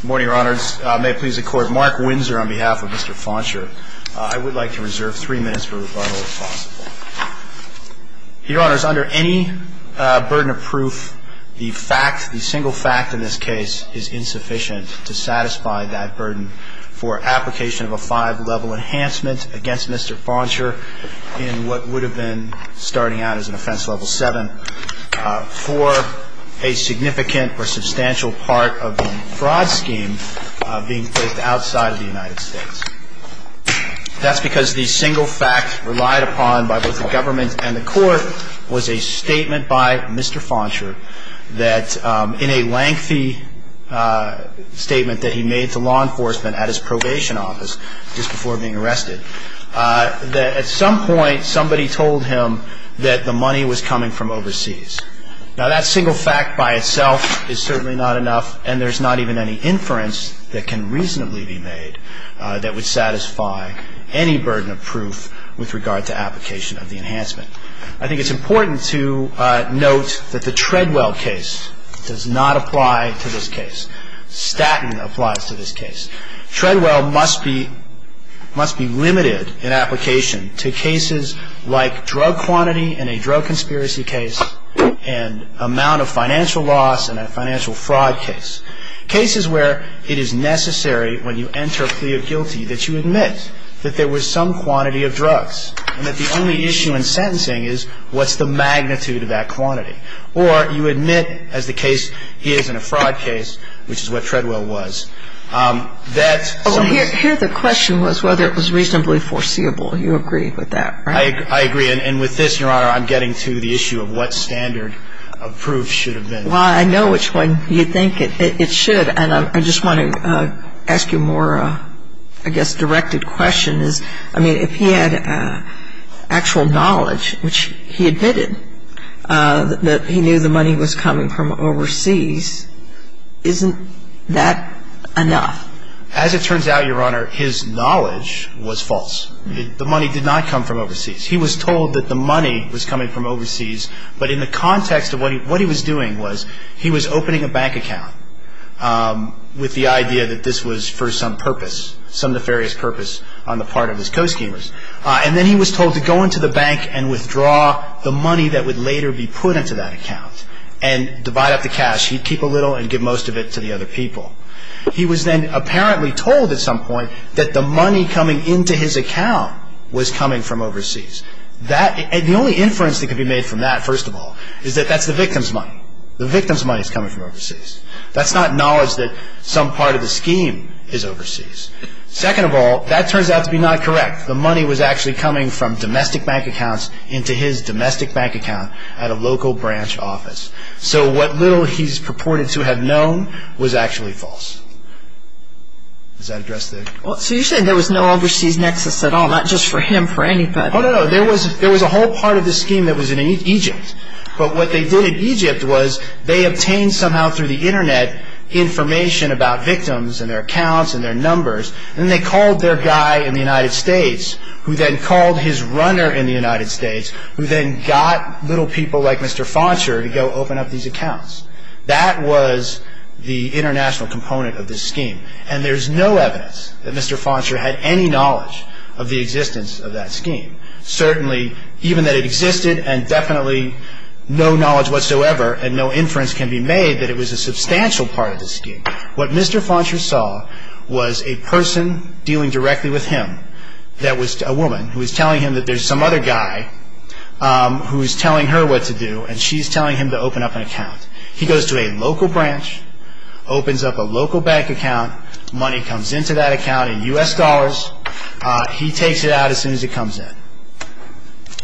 Good morning, your honors. May it please the court, Mark Windsor on behalf of Mr. Fauncher. I would like to reserve three minutes for rebuttal if possible. Your honors, under any burden of proof, the fact, the single fact in this case is insufficient to satisfy that burden for application of a five-level enhancement against Mr. Fauncher in what would have been starting out as an offense level seven. for a significant or substantial part of the fraud scheme being placed outside of the United States. That's because the single fact relied upon by both the government and the court was a statement by Mr. Fauncher that in a lengthy statement that he made to law enforcement at his probation office just before being arrested, that at some point somebody told him that the money was coming from overseas. Now, that single fact by itself is certainly not enough, and there's not even any inference that can reasonably be made that would satisfy any burden of proof with regard to application of the enhancement. I think it's important to note that the Treadwell case does not apply to this case. Staten applies to this case. Treadwell must be limited in application to cases like drug quantity in a drug conspiracy case and amount of financial loss in a financial fraud case. Cases where it is necessary when you enter a plea of guilty that you admit that there was some quantity of drugs and that the only issue in sentencing is what's the magnitude of that quantity. Or you admit, as the case here is in a fraud case, which is what Treadwell was, that some of the ---- So here the question was whether it was reasonably foreseeable. You agree with that, right? I agree. And with this, Your Honor, I'm getting to the issue of what standard of proof should have been. Well, I know which one you think it should, and I just want to ask you more, I guess, directed questions. I mean, if he had actual knowledge, which he admitted that he knew the money was coming from overseas, isn't that enough? As it turns out, Your Honor, his knowledge was false. The money did not come from overseas. He was told that the money was coming from overseas, but in the context of what he was doing was he was opening a bank account with the idea that this was for some purpose, some nefarious purpose on the part of his co-schemers. And then he was told to go into the bank and withdraw the money that would later be put into that account and divide up the cash. He'd keep a little and give most of it to the other people. He was then apparently told at some point that the money coming into his account was coming from overseas. The only inference that could be made from that, first of all, is that that's the victim's money. The victim's money is coming from overseas. That's not knowledge that some part of the scheme is overseas. Second of all, that turns out to be not correct. The money was actually coming from domestic bank accounts into his domestic bank account at a local branch office. So what little he's purported to have known was actually false. Does that address the... Well, so you're saying there was no overseas nexus at all, not just for him, for anybody. Oh, no, no. There was a whole part of the scheme that was in Egypt. But what they did in Egypt was they obtained somehow through the Internet information about victims and their accounts and their numbers, and they called their guy in the United States, who then called his runner in the United States, who then got little people like Mr. Foncher to go open up these accounts. That was the international component of this scheme, and there's no evidence that Mr. Foncher had any knowledge of the existence of that scheme, certainly even that it existed and definitely no knowledge whatsoever and no inference can be made that it was a substantial part of the scheme. What Mr. Foncher saw was a person dealing directly with him. That was a woman who was telling him that there's some other guy who is telling her what to do, and she's telling him to open up an account. He goes to a local branch, opens up a local bank account. Money comes into that account in U.S. dollars. He takes it out as soon as it comes in.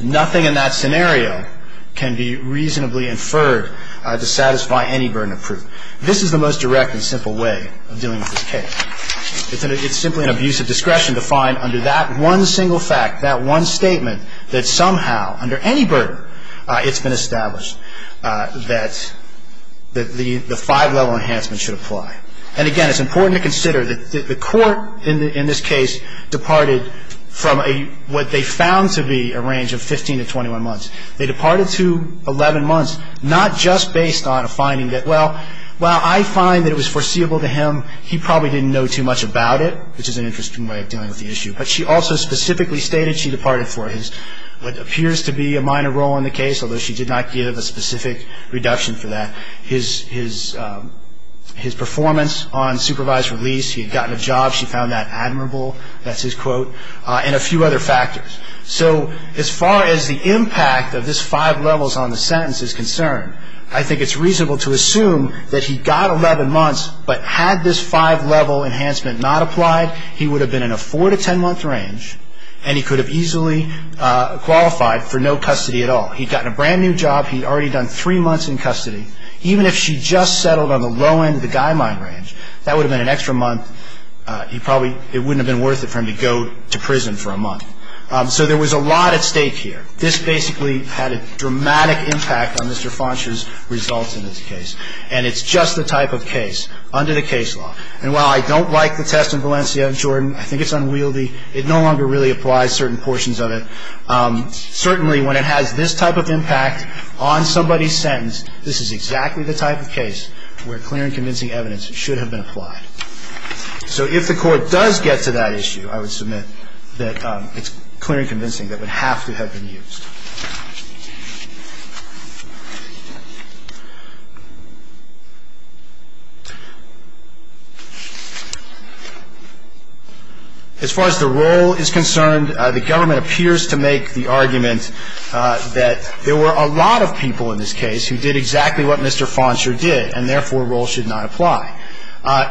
Nothing in that scenario can be reasonably inferred to satisfy any burden of proof. This is the most direct and simple way of dealing with this case. It's simply an abuse of discretion to find under that one single fact, that one statement, that somehow under any burden it's been established that the five-level enhancement should apply. And again, it's important to consider that the court in this case departed from what they found to be a range of 15 to 21 months. They departed to 11 months, not just based on a finding that, well, I find that it was foreseeable to him he probably didn't know too much about it, which is an interesting way of dealing with the issue, but she also specifically stated she departed for what appears to be a minor role in the case, although she did not give a specific reduction for that. His performance on supervised release, he had gotten a job, she found that admirable, that's his quote, and a few other factors. So as far as the impact of this five levels on the sentence is concerned, I think it's reasonable to assume that he got 11 months, but had this five-level enhancement not applied, he would have been in a four- to ten-month range, and he could have easily qualified for no custody at all. He'd gotten a brand-new job. He'd already done three months in custody. Even if she just settled on the low end of the guideline range, that would have been an extra month. It probably wouldn't have been worth it for him to go to prison for a month. So there was a lot at stake here. This basically had a dramatic impact on Mr. Fauncher's results in this case, and it's just the type of case under the case law. And while I don't like the test in Valencia and Jordan, I think it's unwieldy, it no longer really applies certain portions of it. Certainly, when it has this type of impact on somebody's sentence, this is exactly the type of case where clear and convincing evidence should have been applied. So if the Court does get to that issue, I would submit that it's clear and convincing that it would have to have been used. As far as the role is concerned, the Government appears to make the argument that there were a lot of people in this case who did exactly what Mr. Fauncher did, and therefore, role should not apply.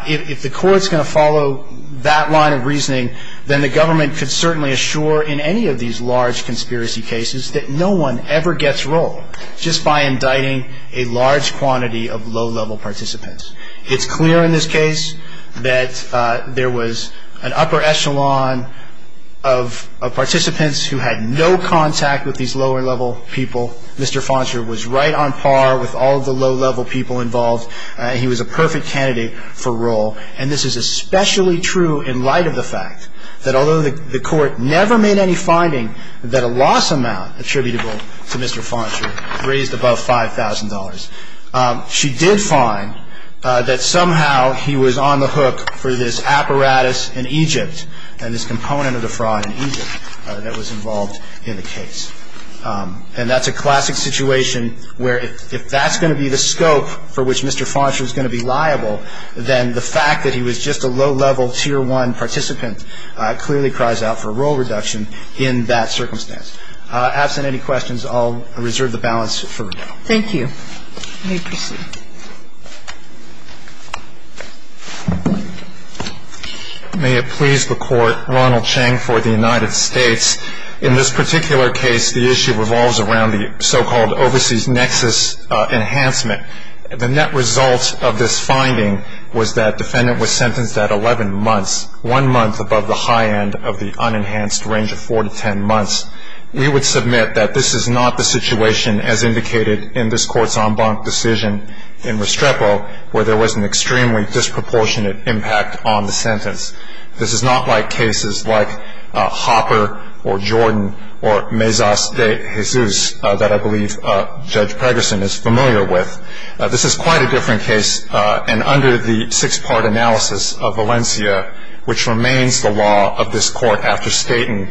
If the Court's going to follow that line of reasoning, then the Government could certainly assure in any of these large conspiracy cases that Mr. Fauncher's role should not apply. The other thing I would say is that no one ever gets role just by indicting a large quantity of low-level participants. It's clear in this case that there was an upper echelon of participants who had no contact with these lower-level people. Mr. Fauncher was right on par with all of the low-level people involved. He was a perfect candidate for role. And this is especially true in light of the fact that although the Court never made any finding that a loss amount attributable to Mr. Fauncher raised above $5,000, she did find that somehow he was on the hook for this apparatus in Egypt and this component of the fraud in Egypt that was involved in the case. And that's a classic situation where if that's going to be the scope for which Mr. Fauncher is going to be liable, then the fact that he was just a low-level Tier 1 participant clearly cries out for a role reduction in that circumstance. Absent any questions, I'll reserve the balance for now. Thank you. You may proceed. May it please the Court, Ronald Cheng for the United States. In this particular case, the issue revolves around the so-called overseas nexus enhancement. The net result of this finding was that defendant was sentenced at 11 months, one month above the high end of the unenhanced range of 4 to 10 months. We would submit that this is not the situation as indicated in this Court's en banc decision in Restrepo where there was an extremely disproportionate impact on the sentence. This is not like cases like Hopper or Jordan or Mezas de Jesus that I believe Judge Pregerson is familiar with. This is quite a different case, and under the six-part analysis of Valencia, which remains the law of this Court after Staten,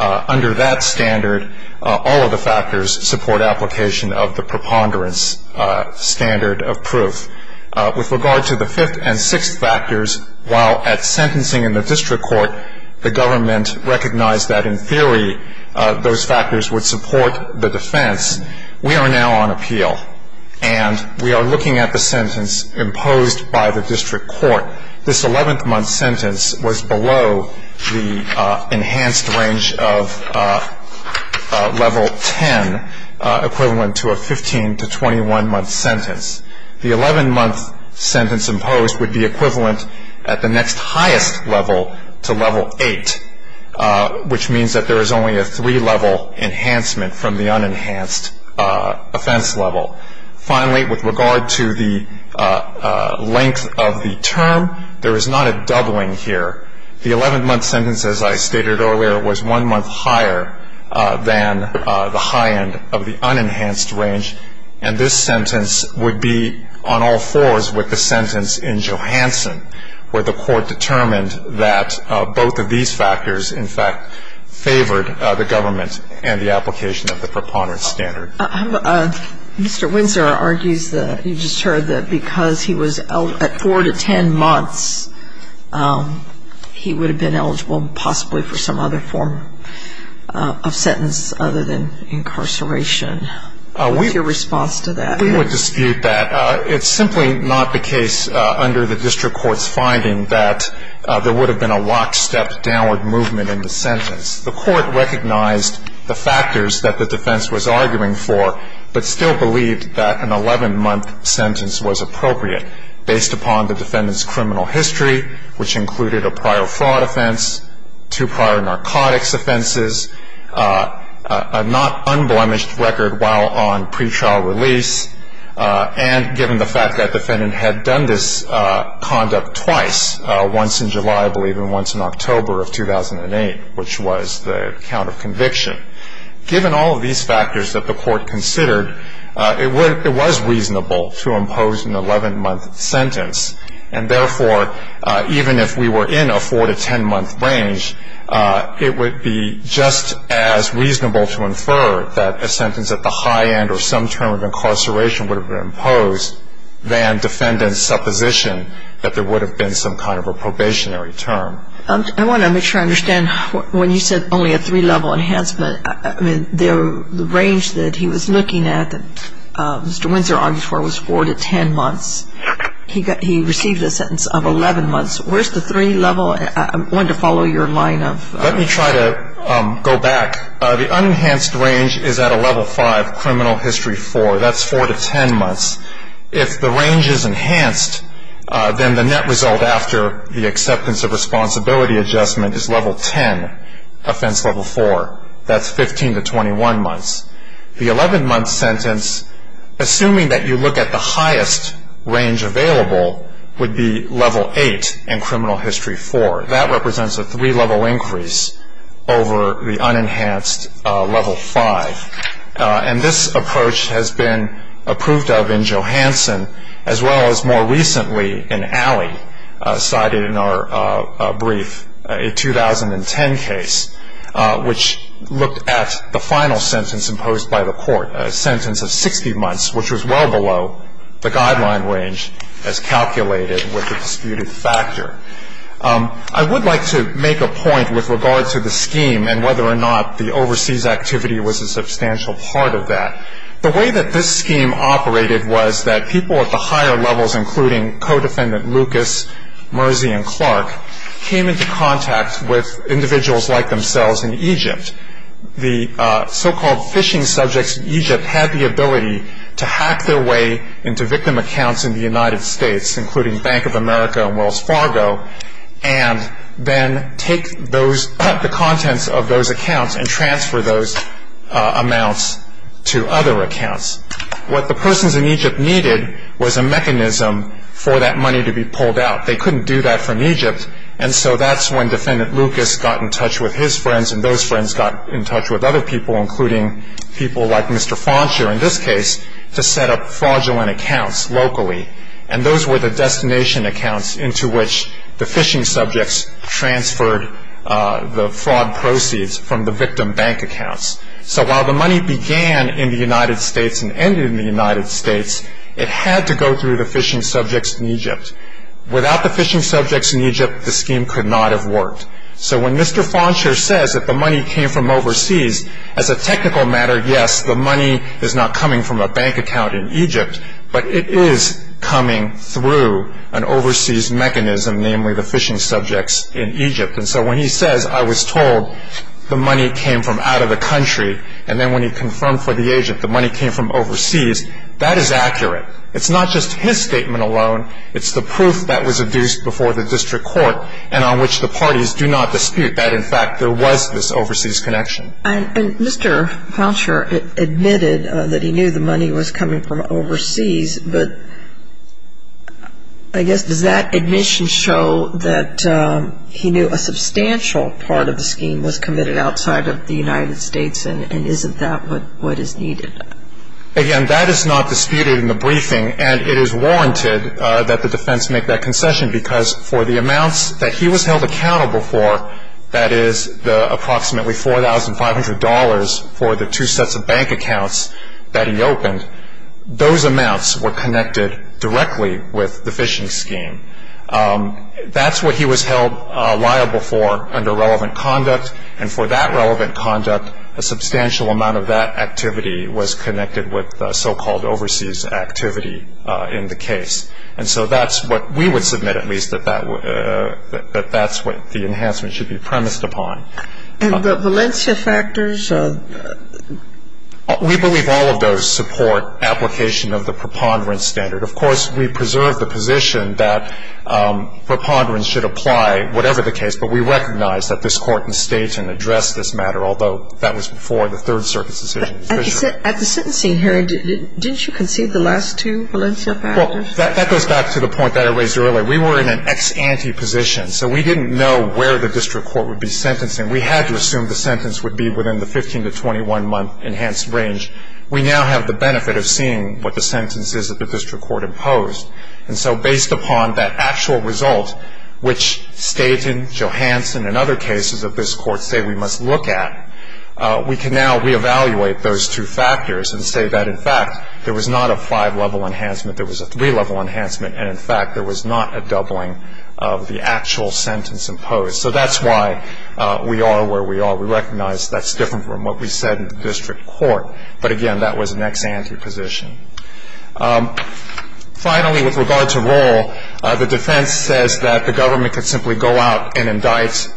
under that standard, all of the factors support application of the preponderance standard of proof. With regard to the fifth and sixth factors, while at sentencing in the district court, the government recognized that in theory those factors would support the defense. We are now on appeal, and we are looking at the sentence imposed by the district court. This 11-month sentence was below the enhanced range of level 10, equivalent to a 15- to 21-month sentence. The 11-month sentence imposed would be equivalent at the next highest level to level 8, which means that there is only a three-level enhancement from the unenhanced offense level. Finally, with regard to the length of the term, there is not a doubling here. The 11-month sentence, as I stated earlier, was one month higher than the high end of the unenhanced range, and this sentence would be on all fours with the sentence in Johansson, where the Court determined that both of these factors, in fact, favored the government and the application of the preponderance standard. Mr. Windsor argues that you just heard that because he was at 4 to 10 months, he would have been eligible possibly for some other form of sentence other than incarceration. What's your response to that? We would dispute that. It's simply not the case under the district court's finding that there would have been a lockstep, downward movement in the sentence. The Court recognized the factors that the defense was arguing for, but still believed that an 11-month sentence was appropriate based upon the defendant's criminal history, which included a prior fraud offense, two prior narcotics offenses, a not unblemished record while on pretrial release, and given the fact that the defendant had done this conduct twice, once in July, I believe, and once in October of 2008, which was the count of conviction. Given all of these factors that the Court considered, it was reasonable to impose an 11-month sentence, and therefore even if we were in a 4 to 10-month range, it would be just as reasonable to infer that a sentence at the high end or some term of incarceration would have been imposed than defendant's supposition that there would have been some kind of a probationary term. I want to make sure I understand. When you said only a three-level enhancement, I mean, the range that he was looking at that Mr. Windsor argued for was 4 to 10 months. He received a sentence of 11 months. Where's the three-level? I wanted to follow your line of... Let me try to go back. The unenhanced range is at a level 5, criminal history 4. That's 4 to 10 months. If the range is enhanced, then the net result after the acceptance of responsibility adjustment is level 10, offense level 4. That's 15 to 21 months. The 11-month sentence, assuming that you look at the highest range available, would be level 8 in criminal history 4. That represents a three-level increase over the unenhanced level 5. And this approach has been approved of in Johansson, as well as more recently in Alley cited in our brief, a 2010 case, which looked at the final sentence imposed by the court, a sentence of 60 months, which was well below the guideline range as calculated with the disputed factor. I would like to make a point with regard to the scheme and whether or not the overseas activity was a substantial part of that. The way that this scheme operated was that people at the higher levels, including codefendant Lucas, Mersey, and Clark, came into contact with individuals like themselves in Egypt. The so-called phishing subjects in Egypt had the ability to hack their way into victim accounts in the United States, including Bank of America and Wells Fargo, and then take the contents of those accounts and transfer those amounts to other accounts. What the persons in Egypt needed was a mechanism for that money to be pulled out. They couldn't do that from Egypt, and so that's when defendant Lucas got in touch with his friends and those friends got in touch with other people, including people like Mr. Fauncher in this case, to set up fraudulent accounts locally. And those were the destination accounts into which the phishing subjects transferred the fraud proceeds from the victim bank accounts. So while the money began in the United States and ended in the United States, it had to go through the phishing subjects in Egypt. Without the phishing subjects in Egypt, the scheme could not have worked. So when Mr. Fauncher says that the money came from overseas, as a technical matter, yes, the money is not coming from a bank account in Egypt, but it is coming through an overseas mechanism, namely the phishing subjects in Egypt. And so when he says, I was told the money came from out of the country, and then when he confirmed for the agent the money came from overseas, that is accurate. It's not just his statement alone. It's the proof that was adduced before the district court and on which the parties do not dispute that, in fact, there was this overseas connection. And Mr. Fauncher admitted that he knew the money was coming from overseas, but I guess does that admission show that he knew a substantial part of the scheme was committed outside of the United States and isn't that what is needed? Again, that is not disputed in the briefing, and it is warranted that the defense make that concession because for the amounts that he was held accountable for, that is the approximately $4,500 for the two sets of bank accounts that he opened, those amounts were connected directly with the phishing scheme. That's what he was held liable for under relevant conduct, and for that relevant conduct a substantial amount of that activity was connected with so-called overseas activity in the case. And so that's what we would submit, at least, that that's what the enhancement should be premised upon. And the Valencia factors? We believe all of those support application of the preponderance standard. Of course, we preserve the position that preponderance should apply whatever the case, but we recognize that this Court in State can address this matter, although that was before the Third Circuit's decision. At the sentencing hearing, didn't you concede the last two Valencia factors? Well, that goes back to the point that I raised earlier. We were in an ex-ante position, so we didn't know where the district court would be sentencing. We had to assume the sentence would be within the 15-to-21-month enhanced range. We now have the benefit of seeing what the sentence is that the district court imposed. And so based upon that actual result, which State and Johansson and other cases of this Court say we must look at, we can now reevaluate those two factors and say that, in fact, there was not a five-level enhancement, there was a three-level enhancement, and, in fact, there was not a doubling of the actual sentence imposed. So that's why we are where we are. We recognize that's different from what we said in the district court. But, again, that was an ex-ante position. Finally, with regard to roll, the defense says that the government could simply go out and indict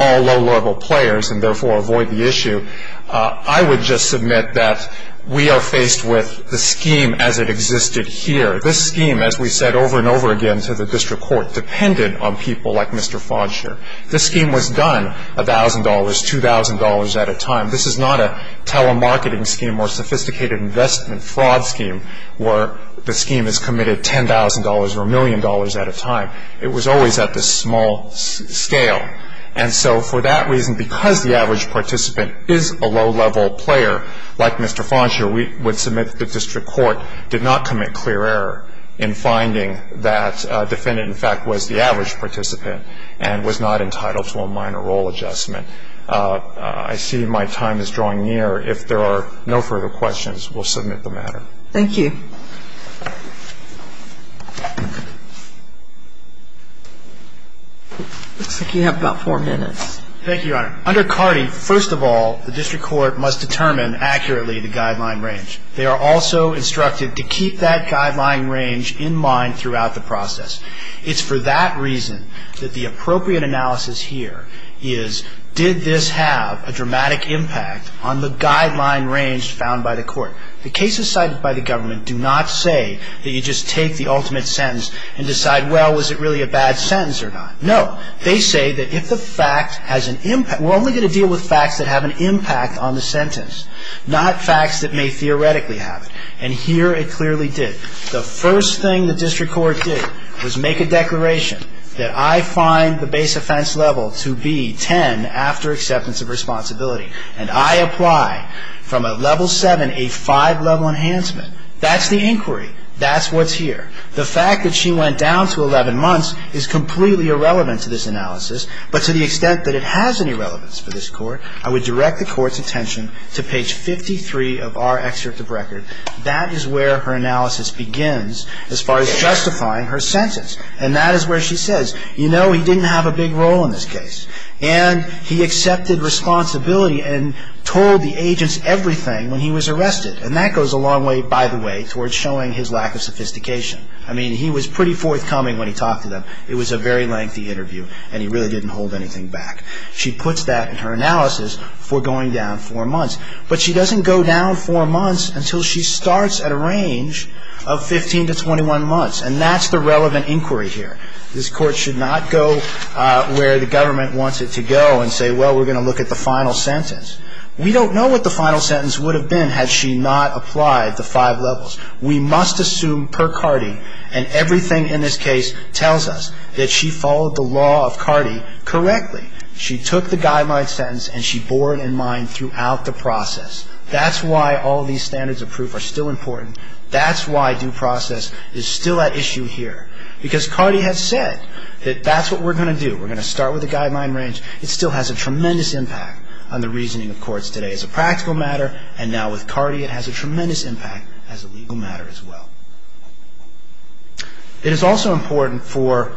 all low-level players and, therefore, avoid the issue. I would just submit that we are faced with the scheme as it existed here. This scheme, as we said over and over again to the district court, depended on people like Mr. Fonsher. This scheme was done $1,000, $2,000 at a time. This is not a telemarketing scheme or sophisticated investment fraud scheme where the scheme is committed $10,000 or a million dollars at a time. It was always at this small scale. And so for that reason, because the average participant is a low-level player like Mr. Fonsher, we would submit that the district court did not commit clear error in finding that a defendant, in fact, was the average participant and was not entitled to a minor roll adjustment. I see my time is drawing near. If there are no further questions, we'll submit the matter. Thank you. It looks like you have about four minutes. Thank you, Your Honor. Under CARDI, first of all, the district court must determine accurately the guideline range. They are also instructed to keep that guideline range in mind throughout the process. It's for that reason that the appropriate analysis here is, did this have a dramatic impact on the guideline range found by the court? The cases cited by the government do not say that you just take the ultimate sentence and decide, well, was it really a bad sentence or not. No, they say that if the fact has an impact, we're only going to deal with facts that have an impact on the sentence, not facts that may theoretically have it. And here it clearly did. The first thing the district court did was make a declaration that I find the base offense level to be 10 after acceptance of responsibility, and I apply from a level 7, a 5-level enhancement. That's the inquiry. That's what's here. The fact that she went down to 11 months is completely irrelevant to this analysis, but to the extent that it has any relevance for this Court, I would direct the Court's attention to page 53 of our excerpt of record. That is where her analysis begins as far as justifying her sentence. And that is where she says, you know, he didn't have a big role in this case, and he accepted responsibility and told the agents everything when he was arrested. And that goes a long way, by the way, towards showing his lack of sophistication. I mean, he was pretty forthcoming when he talked to them. It was a very lengthy interview, and he really didn't hold anything back. She puts that in her analysis for going down four months, but she doesn't go down four months until she starts at a range of 15 to 21 months, and that's the relevant inquiry here. This Court should not go where the government wants it to go and say, well, we're going to look at the final sentence. We don't know what the final sentence would have been had she not applied the five levels. We must assume per Cardi, and everything in this case tells us, that she followed the law of Cardi correctly. She took the guideline sentence, and she bore it in mind throughout the process. That's why all these standards of proof are still important. That's why due process is still at issue here. Because Cardi has said that that's what we're going to do. We're going to start with the guideline range. It still has a tremendous impact on the reasoning of courts today as a practical matter, and now with Cardi, it has a tremendous impact as a legal matter as well. It is also important for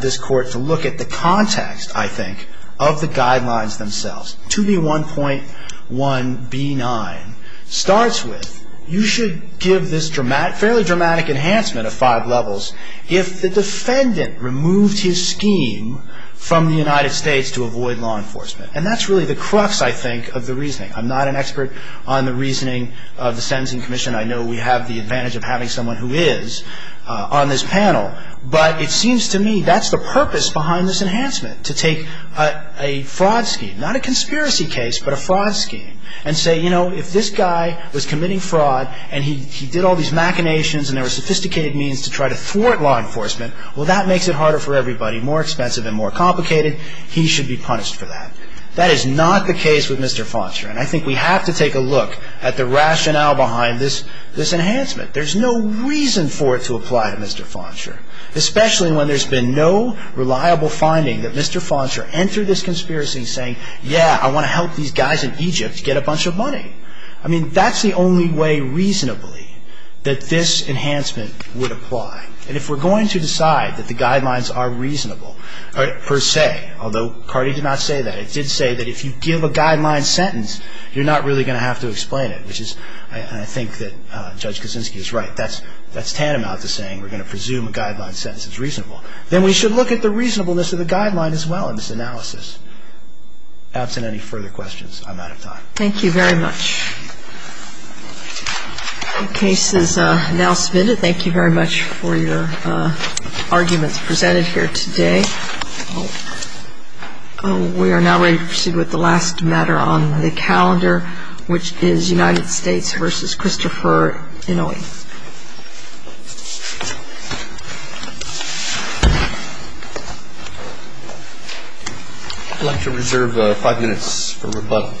this Court to look at the context, I think, of the guidelines themselves. 2B1.1b9 starts with, you should give this fairly dramatic enhancement of five levels if the defendant removed his scheme from the United States to avoid law enforcement. And that's really the crux, I think, of the reasoning. I'm not an expert on the reasoning of the Sentencing Commission. I know we have the advantage of having someone who is on this panel. But it seems to me that's the purpose behind this enhancement, to take a fraud scheme, not a conspiracy case, but a fraud scheme, and say, you know, if this guy was committing fraud, and he did all these machinations, and there were sophisticated means to try to thwart law enforcement, well, that makes it harder for everybody, more expensive and more complicated. He should be punished for that. That is not the case with Mr. Foncher. And I think we have to take a look at the rationale behind this enhancement. There's no reason for it to apply to Mr. Foncher, especially when there's been no reliable finding that Mr. Foncher entered this conspiracy saying, I mean, that's the only way, reasonably, that this enhancement would apply. And if we're going to decide that the guidelines are reasonable, per se, although Cardi did not say that, it did say that if you give a guideline sentence, you're not really going to have to explain it, which is, I think that Judge Kosinski is right. That's tantamount to saying we're going to presume a guideline sentence is reasonable. Then we should look at the reasonableness of the guideline as well in this analysis. Absent any further questions, I'm out of time. Thank you very much. The case is now submitted. Thank you very much for your arguments presented here today. We are now ready to proceed with the last matter on the calendar, which is United States v. Christopher Inouye. I'd like to reserve five minutes for rebuttal.